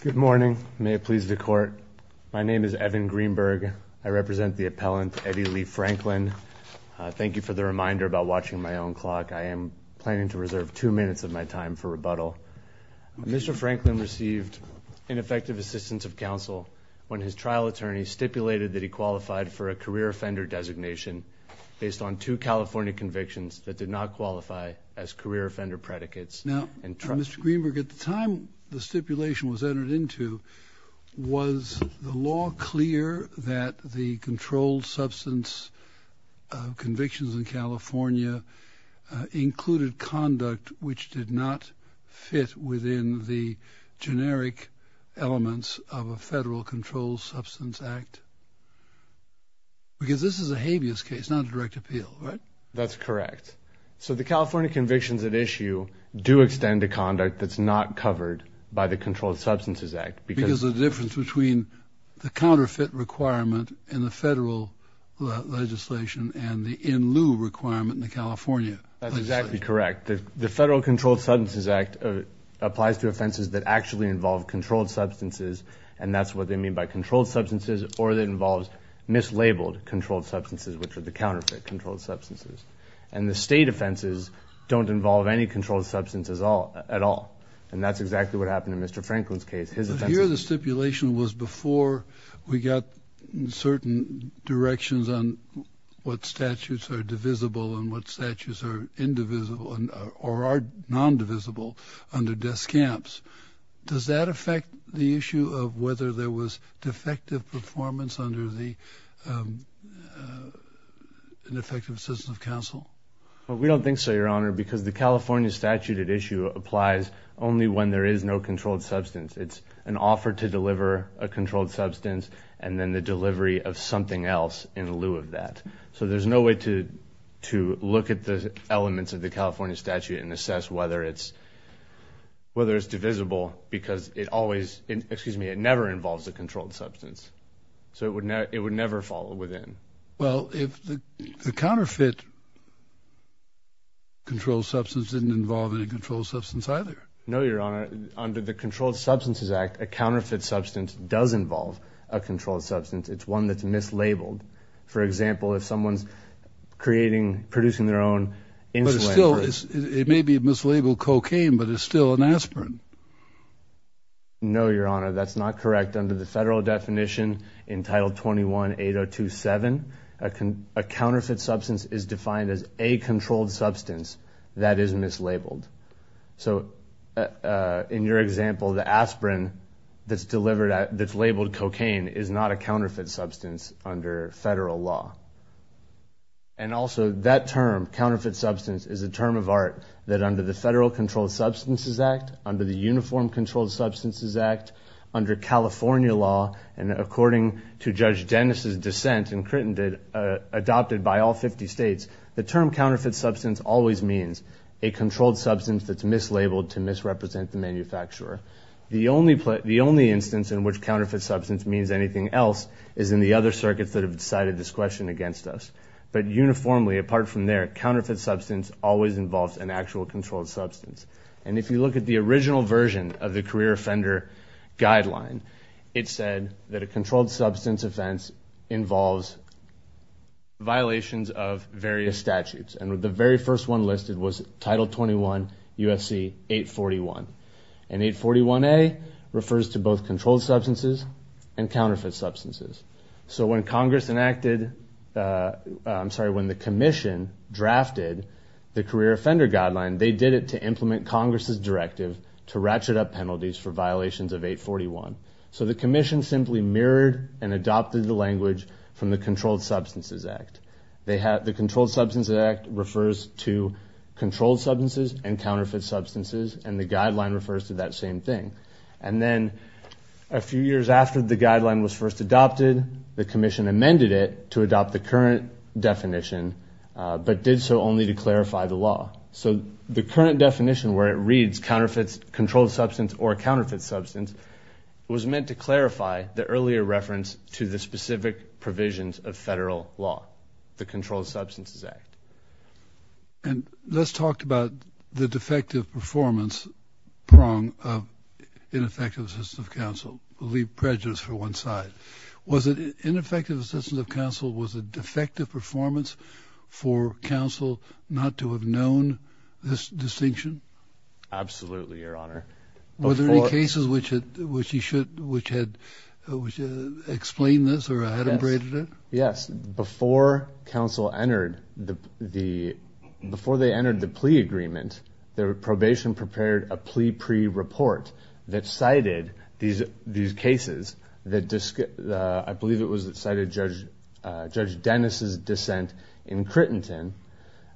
Good morning. May it please the court. My name is Evan Greenberg. I represent the appellant Eddie Lee Franklin. Thank you for the reminder about watching my own clock. I am planning to reserve two minutes of my time for rebuttal. Mr. Franklin received ineffective assistance of counsel when his trial attorney stipulated that he qualified for a career offender designation based on two California convictions that did not qualify as career offender predicates. Now, Mr. Greenberg, at the time the stipulation was entered into, was the law clear that the controlled substance convictions in California included conduct which did not fit within the generic elements of a federal controlled substance act? Because this is a habeas case, not a direct appeal, right? That's correct. So the California convictions at issue do extend to conduct that's not covered by the Controlled Substances Act. Because of the difference between the counterfeit requirement in the federal legislation and the in lieu requirement in the California legislation. That might be correct. The Federal Controlled Substances Act applies to offenses that actually involve controlled substances and that's what they mean by controlled substances or that involves mislabeled controlled substances which are the counterfeit controlled substances. And the state offenses don't involve any controlled substances at all. And that's exactly what happened in Mr. Franklin's case. Here the stipulation was before we got certain directions on what statutes are divisible and what statutes are indivisible or are non-divisible under desk camps. Does that affect the issue of whether there was defective performance under the effective system of counsel? We don't think so, Your Honor, because the California statute at issue applies only when there is no controlled substance. It's an offer to deliver a controlled substance and then the delivery of something else in lieu of that. So there's no way to look at the elements of the California statute and assess whether it's divisible because it never involves a controlled substance. So it would never fall within. Well, if the counterfeit controlled substance didn't involve any controlled substance either. No, Your Honor. Under the Controlled Substances Act, a counterfeit substance does involve a controlled substance. It's one that's mislabeled. For example, if someone's creating, producing their own insulin. It may be mislabeled cocaine, but it's still an aspirin. No, Your Honor, that's not correct. Under the federal definition entitled 21-8027, a counterfeit substance is defined as a controlled substance that is mislabeled. So in your example, the aspirin that's labeled cocaine is not a counterfeit substance under federal law. And also that term, counterfeit substance, is a term of art that under the Federal Controlled Substances Act, under the Uniform Controlled Substances Act, under California law, and according to Judge Dennis' dissent and Crittenden, adopted by all 50 states, the term counterfeit substance always means a controlled substance that's mislabeled to misrepresent the manufacturer. The only instance in which counterfeit substance means anything else is in the other circuits that have decided this question against us. But uniformly, apart from there, counterfeit substance always involves an actual controlled substance. And if you look at the original version of the career offender guideline, it said that a controlled substance offense involves violations of various statutes. And the very first one listed was Title 21 U.S.C. 841. And 841A refers to both controlled substances and counterfeit substances. So when Congress enacted, I'm sorry, when the commission drafted the career offender guideline, they did it to implement Congress' directive to ratchet up penalties for violations of 841. So the commission simply mirrored and adopted the language from the Controlled Substances Act. The Controlled Substances Act refers to controlled substances and counterfeit substances, and the guideline refers to that same thing. And then a few years after the guideline was first adopted, the commission amended it to adopt the current definition, but did so only to clarify the law. So the current definition where it reads counterfeits controlled substance or counterfeit substance was meant to clarify the earlier reference to the specific provisions of federal law, the Controlled Substances Act. And let's talk about the defective performance prong of ineffective assistance of counsel. We'll leave prejudice for one side. Was it ineffective assistance of counsel was a defective performance for counsel not to have known this distinction? Absolutely, Your Honor. Were there any cases which he should, which had explained this or adumbrated it? Yes. Before counsel entered the, before they entered the plea agreement, the probation prepared a plea pre-report that cited these cases that, I believe it was that cited Judge Dennis' dissent in Crittenton,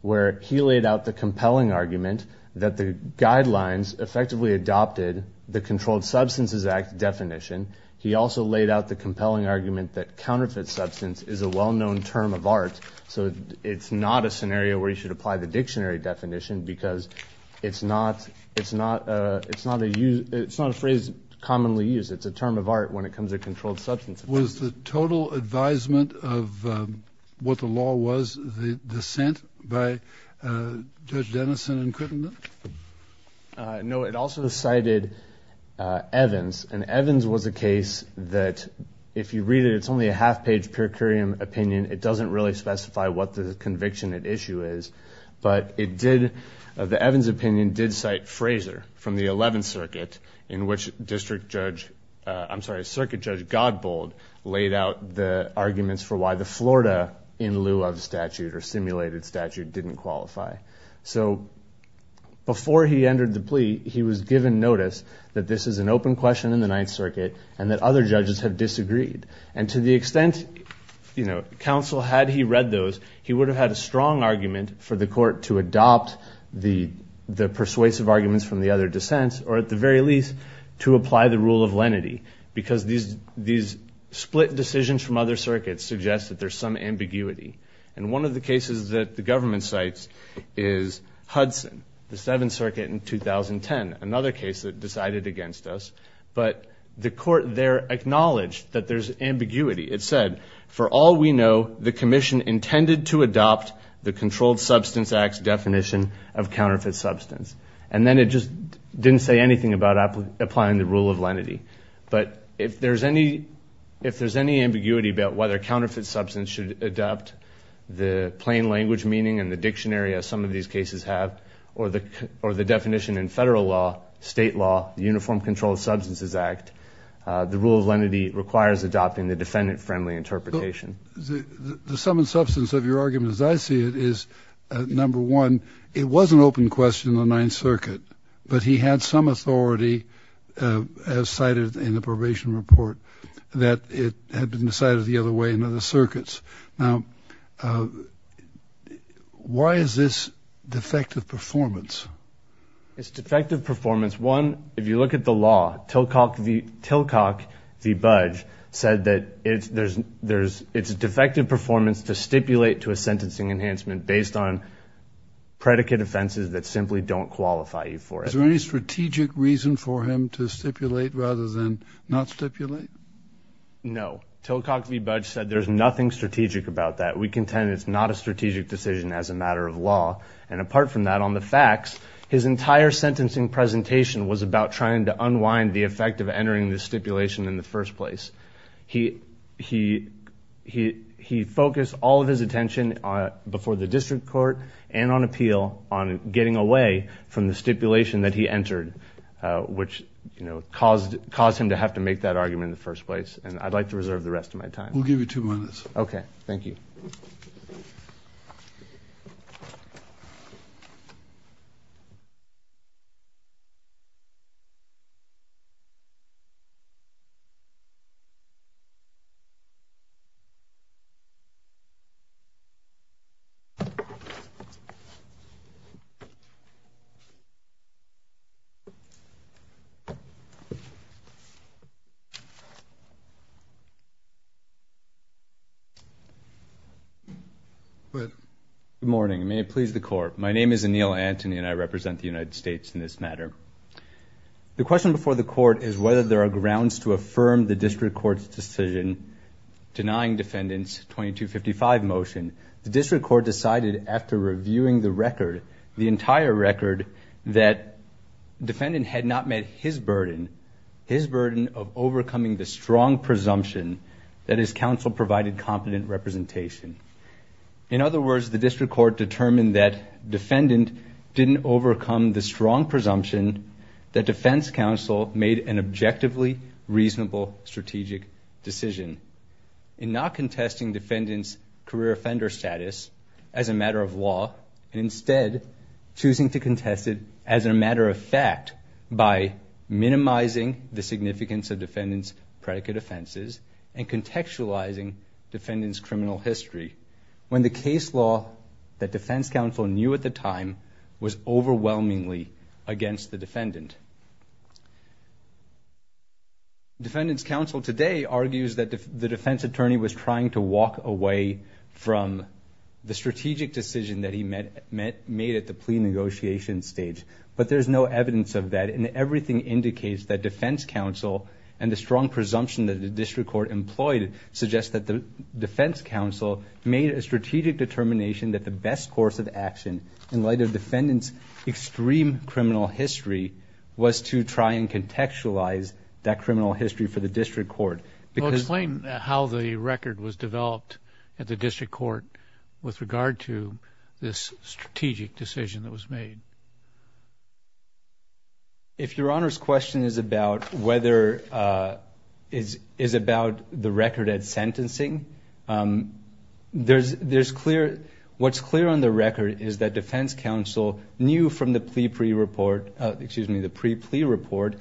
where he laid out the compelling argument that the guidelines effectively adopted the Controlled Substances Act definition. He also laid out the compelling argument that counterfeit substance is a well-known term of art. So it's not a scenario where you should apply the dictionary definition because it's not, it's not a, it's not a phrase commonly used. It's a term of art when it comes to controlled substance. Was the total advisement of what the law was the dissent by Judge Dennis in Crittenton? No, it also cited Evans. And Evans was a case that if you read it, it's only a half-page per curiam opinion. It doesn't really specify what the conviction at issue is. But it did, the Evans opinion did cite Fraser from the 11th Circuit in which District Judge, I'm sorry, Circuit Judge Godbold laid out the arguments for why the Florida in lieu of statute or simulated statute didn't qualify. So before he entered the plea, he was given notice that this is an open question in the 9th Circuit and that other judges have disagreed. And to the extent, you know, counsel had he read those, he would have had a strong argument for the court to adopt the persuasive arguments from the other dissents or at the very least to apply the rule of lenity. Because these split decisions from other circuits suggest that there's some ambiguity. And one of the cases that the government cites is Hudson, the 7th Circuit in 2010, another case that decided against us. But the court there acknowledged that there's ambiguity. It said, for all we know, the commission intended to adopt the Controlled Substance Act's definition of counterfeit substance. And then it just didn't say anything about applying the rule of lenity. But if there's any ambiguity about whether counterfeit substance should adopt the plain language meaning and the dictionary, as some of these cases have, or the definition in federal law, state law, the Uniform Controlled Substances Act, the rule of lenity requires adopting the defendant-friendly interpretation. The sum and substance of your argument, as I see it, is, number one, it was an open question in the 9th Circuit. But he had some authority, as cited in the probation report, that it had been decided the other way in other circuits. Now, why is this defective performance? It's defective performance. One, if you look at the law, Tilcock v. Budge said that it's defective performance to stipulate to a sentencing enhancement based on predicate offenses that simply don't qualify you for it. Is there any strategic reason for him to stipulate rather than not stipulate? No. Tilcock v. Budge said there's nothing strategic about that. We contend it's not a strategic decision as a matter of law. And apart from that, on the facts, his entire sentencing presentation was about trying to unwind the effect of entering the stipulation in the first place. He focused all of his attention before the district court and on appeal on getting away from the stipulation that he entered, which caused him to have to make that argument in the first place. And I'd like to reserve the rest of my time. We'll give you two minutes. Okay. Thank you. Go ahead. Good morning. May it please the court. My name is Anil Antony, and I represent the United States in this matter. The question before the court is whether there are grounds to affirm the district court's decision denying defendant's 2255 motion. The district court decided after reviewing the record, the entire record, that defendant had not met his burden, his burden of overcoming the strong presumption that his counsel provided competent representation. In other words, the district court determined that defendant didn't overcome the strong presumption that defense counsel made an objectively reasonable strategic decision. In not contesting defendant's career offender status as a matter of law, and instead choosing to contest it as a matter of fact by minimizing the significance of defendant's predicate offenses and contextualizing defendant's criminal history, when the case law that defense counsel knew at the time was overwhelmingly against the defendant. Defendant's counsel today argues that the defense attorney was trying to walk away from the strategic decision that he made at the plea negotiation stage. But there's no evidence of that, and everything indicates that defense counsel and the strong presumption that the district court employed suggests that the defense counsel made a strategic determination that the best course of action in light of defendant's extreme criminal history was to try and contextualize that criminal history for the district court. Explain how the record was developed at the district court with regard to this strategic decision that was made. If your Honor's question is about whether, is about the record at sentencing, there's clear, what's clear on the record is that defense counsel knew from the plea report, excuse me, the pre-plea report,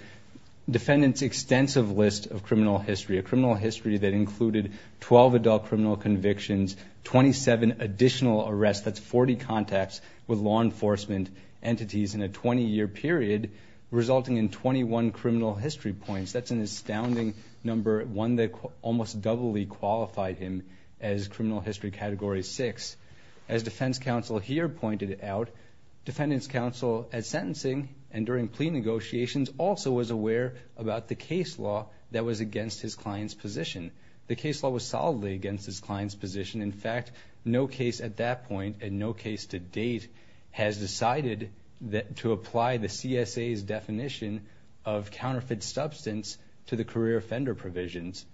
defendant's extensive list of criminal history. A criminal history that included 12 adult criminal convictions, 27 additional arrests, that's 40 contacts with law enforcement entities in a 20-year period, resulting in 21 criminal history points. That's an astounding number, one that almost doubly qualified him as criminal history category six. As defense counsel here pointed out, defendant's counsel at sentencing and during plea negotiations also was aware about the case law that was against his client's position. The case law was solidly against his client's position. In fact, no case at that point and no case to date has decided to apply the CSA's definition of counterfeit substance to the career offender provisions.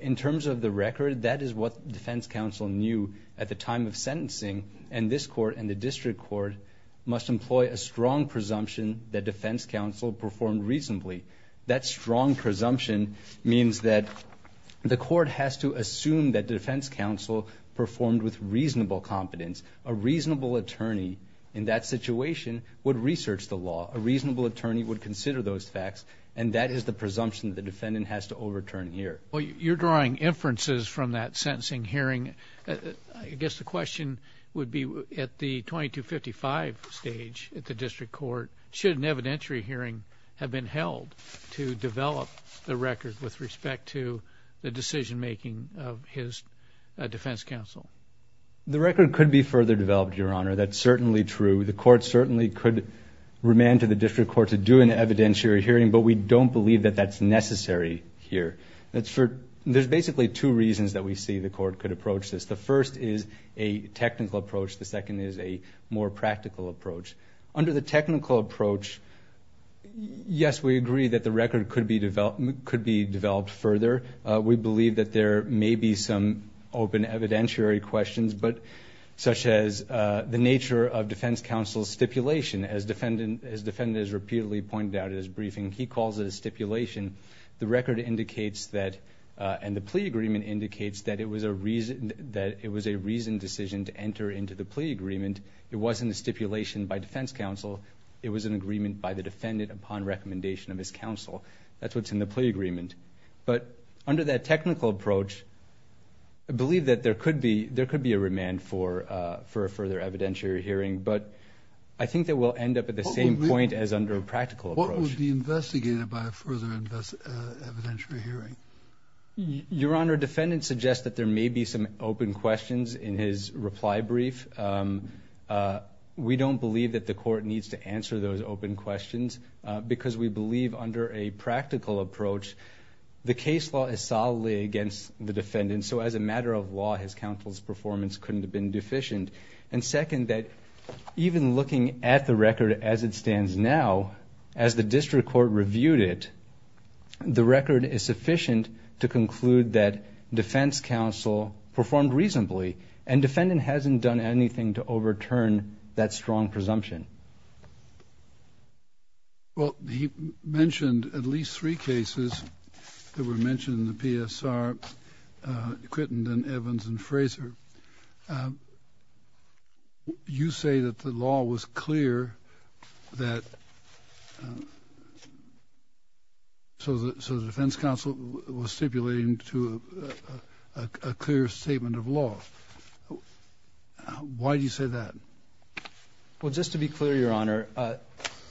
In terms of the record, that is what defense counsel knew at the time of sentencing. This court and the district court must employ a strong presumption that defense counsel performed reasonably. That strong presumption means that the court has to assume that defense counsel performed with reasonable competence. A reasonable attorney in that situation would research the law. A reasonable attorney would consider those facts, and that is the presumption the defendant has to overturn here. Well, you're drawing inferences from that sentencing hearing. I guess the question would be at the 2255 stage at the district court, should an evidentiary hearing have been held to develop the record with respect to the decision making of his defense counsel? The record could be further developed, Your Honor. That's certainly true. The court certainly could remand to the district court to do an evidentiary hearing, but we don't believe that that's necessary here. There's basically two reasons that we see the court could approach this. The first is a technical approach. The second is a more practical approach. Under the technical approach, yes, we agree that the record could be developed further. We believe that there may be some open evidentiary questions, such as the nature of defense counsel's stipulation. As the defendant has repeatedly pointed out in his briefing, he calls it a stipulation. The record indicates that, and the plea agreement indicates that, it was a reasoned decision to enter into the plea agreement. It wasn't a stipulation by defense counsel. It was an agreement by the defendant upon recommendation of his counsel. That's what's in the plea agreement. But under that technical approach, I believe that there could be a remand for a further evidentiary hearing, but I think that we'll end up at the same point as under a practical approach. What would be investigated by a further evidentiary hearing? Your Honor, defendant suggests that there may be some open questions in his reply brief. We don't believe that the court needs to answer those open questions because we believe under a practical approach, the case law is solidly against the defendant, so as a matter of law, his counsel's performance couldn't have been deficient. Second, even looking at the record as it stands now, as the district court reviewed it, the record is sufficient to conclude that defense counsel performed reasonably and defendant hasn't done anything to overturn that strong presumption. Well, he mentioned at least three cases that were mentioned in the PSR, Quittenden, Evans, and Fraser. Your Honor, you say that the law was clear that so the defense counsel was stipulating to a clear statement of law. Why do you say that? Well, just to be clear, Your Honor,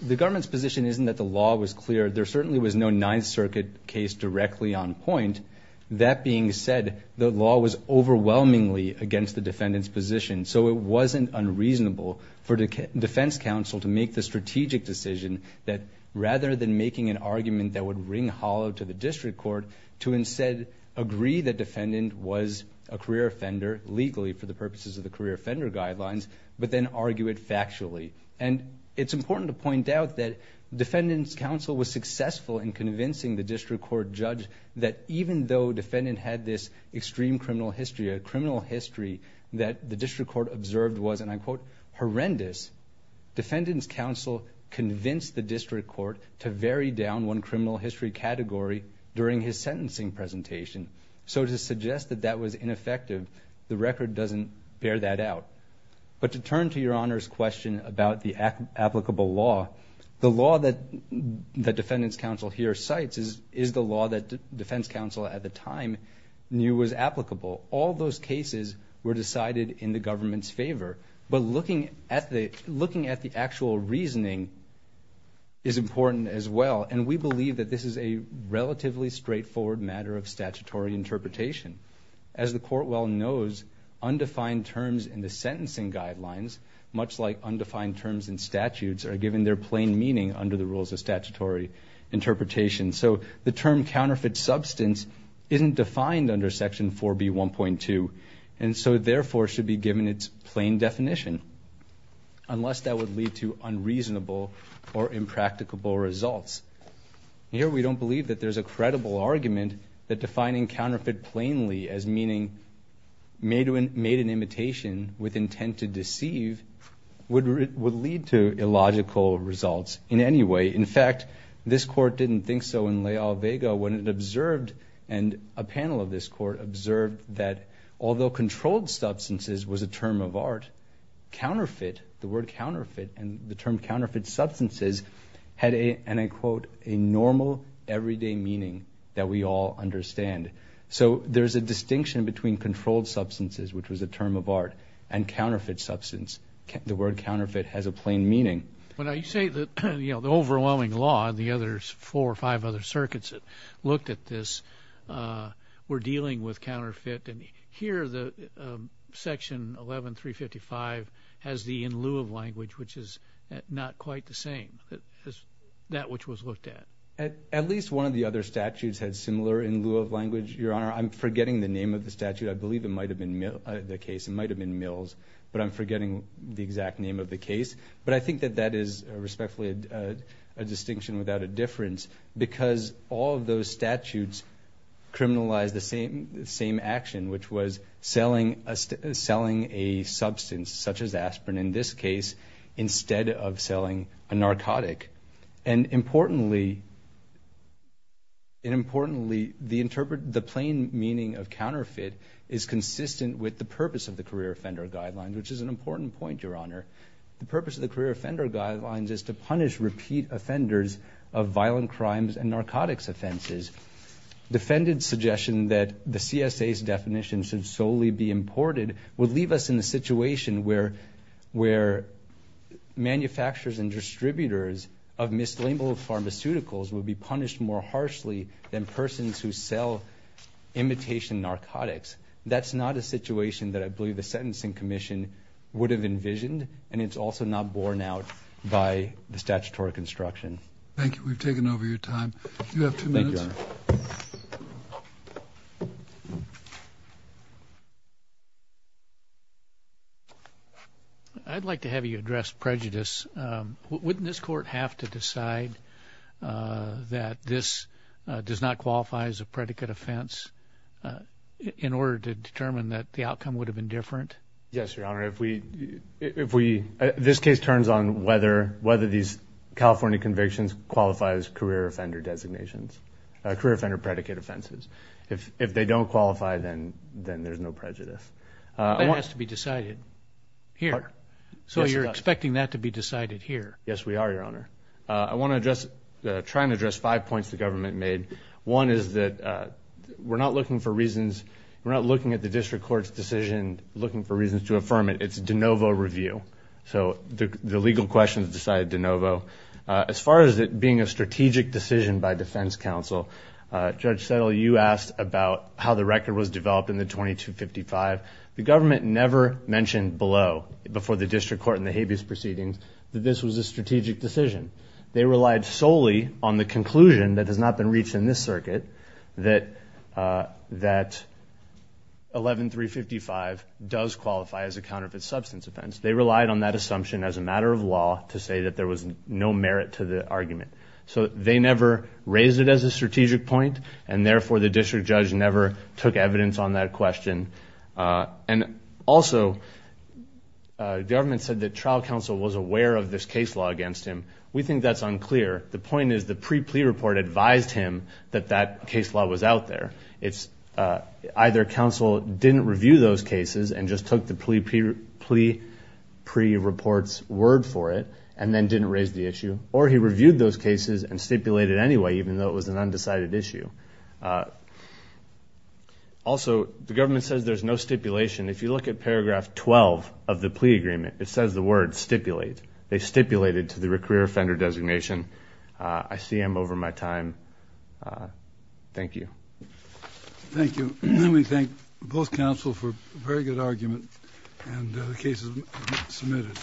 the government's position isn't that the law was clear. There certainly was no Ninth Circuit case directly on point. That being said, the law was overwhelmingly against the defendant's position, so it wasn't unreasonable for defense counsel to make the strategic decision that rather than making an argument that would ring hollow to the district court, to instead agree that defendant was a career offender legally for the purposes of the career offender guidelines, but then argue it factually. It's important to point out that defendant's counsel was successful in convincing the district court judge that even though defendant had this extreme criminal history, a criminal history that the district court observed was, and I quote, horrendous, defendant's counsel convinced the district court to vary down one criminal history category during his sentencing presentation. So to suggest that that was ineffective, the record doesn't bear that out. But to turn to Your Honor's question about the applicable law, the law that defendant's counsel here cites is the law that defense counsel at the time knew was applicable. All those cases were decided in the government's favor, but looking at the actual reasoning is important as well, and we believe that this is a relatively straightforward matter of statutory interpretation. As the court well knows, undefined terms in the sentencing guidelines, much like undefined terms in statutes, are given their plain meaning under the rules of statutory interpretation. So the term counterfeit substance isn't defined under Section 4B1.2, and so therefore should be given its plain definition, unless that would lead to unreasonable or impracticable results. Here we don't believe that there's a credible argument that defining counterfeit plainly as meaning made an imitation with intent to deceive would lead to illogical results in any way. In fact, this court didn't think so in La Alvega when it observed, and a panel of this court observed that although controlled substances was a term of art, counterfeit, the word counterfeit and the term counterfeit substances, had a, and I quote, a normal everyday meaning that we all understand. So there's a distinction between controlled substances, which was a term of art, and counterfeit substance. The word counterfeit has a plain meaning. When I say that, you know, the overwhelming law and the other four or five other circuits that looked at this were dealing with counterfeit, and here the Section 11.355 has the in lieu of language, which is not quite the same as that which was looked at. At least one of the other statutes had similar in lieu of language, Your Honor. I'm forgetting the name of the statute. I believe it might have been the case. It might have been Mills, but I'm forgetting the exact name of the case. But I think that that is respectfully a distinction without a difference because all of those statutes criminalized the same action, which was selling a substance, such as aspirin in this case, instead of selling a narcotic. And importantly, the plain meaning of counterfeit is consistent with the purpose of the career offender guidelines, which is an important point, Your Honor. The purpose of the career offender guidelines is to punish repeat offenders of violent crimes and narcotics offenses. Defendant's suggestion that the CSA's definition should solely be imported would leave us in a situation where manufacturers and distributors of mislabeled pharmaceuticals would be punished more harshly than persons who sell imitation narcotics. That's not a situation that I believe the Sentencing Commission would have envisioned, and it's also not borne out by the statutory construction. Thank you. We've taken over your time. You have two minutes. I'd like to have you address prejudice. Wouldn't this court have to decide that this does not qualify as a predicate offense in order to determine that the outcome would have been different? Yes, Your Honor. This case turns on whether these California convictions qualify as career offender designations, career offender predicate offenses. If they don't qualify, then there's no prejudice. That has to be decided here. So you're expecting that to be decided here. Yes, we are, Your Honor. I want to try and address five points the government made. One is that we're not looking for reasons. We're not looking for reasons to affirm it. It's de novo review. So the legal questions decided de novo. As far as it being a strategic decision by defense counsel, Judge Settle, you asked about how the record was developed in the 2255. The government never mentioned below, before the district court and the habeas proceedings, that this was a strategic decision. They relied solely on the conclusion that has not been reached in this circuit, that 11355 does qualify as a counterfeit substance offense. They relied on that assumption as a matter of law to say that there was no merit to the argument. So they never raised it as a strategic point, and therefore the district judge never took evidence on that question. And also, the government said that trial counsel was aware of this case law against him. We think that's unclear. The point is the pre-plea report advised him that that case law was out there. Either counsel didn't review those cases and just took the plea pre-report's word for it and then didn't raise the issue, or he reviewed those cases and stipulated anyway, even though it was an undecided issue. Also, the government says there's no stipulation. If you look at paragraph 12 of the plea agreement, it says the word stipulate. They stipulated to the career offender designation. I see I'm over my time. Thank you. Thank you. We thank both counsel for a very good argument and the cases submitted.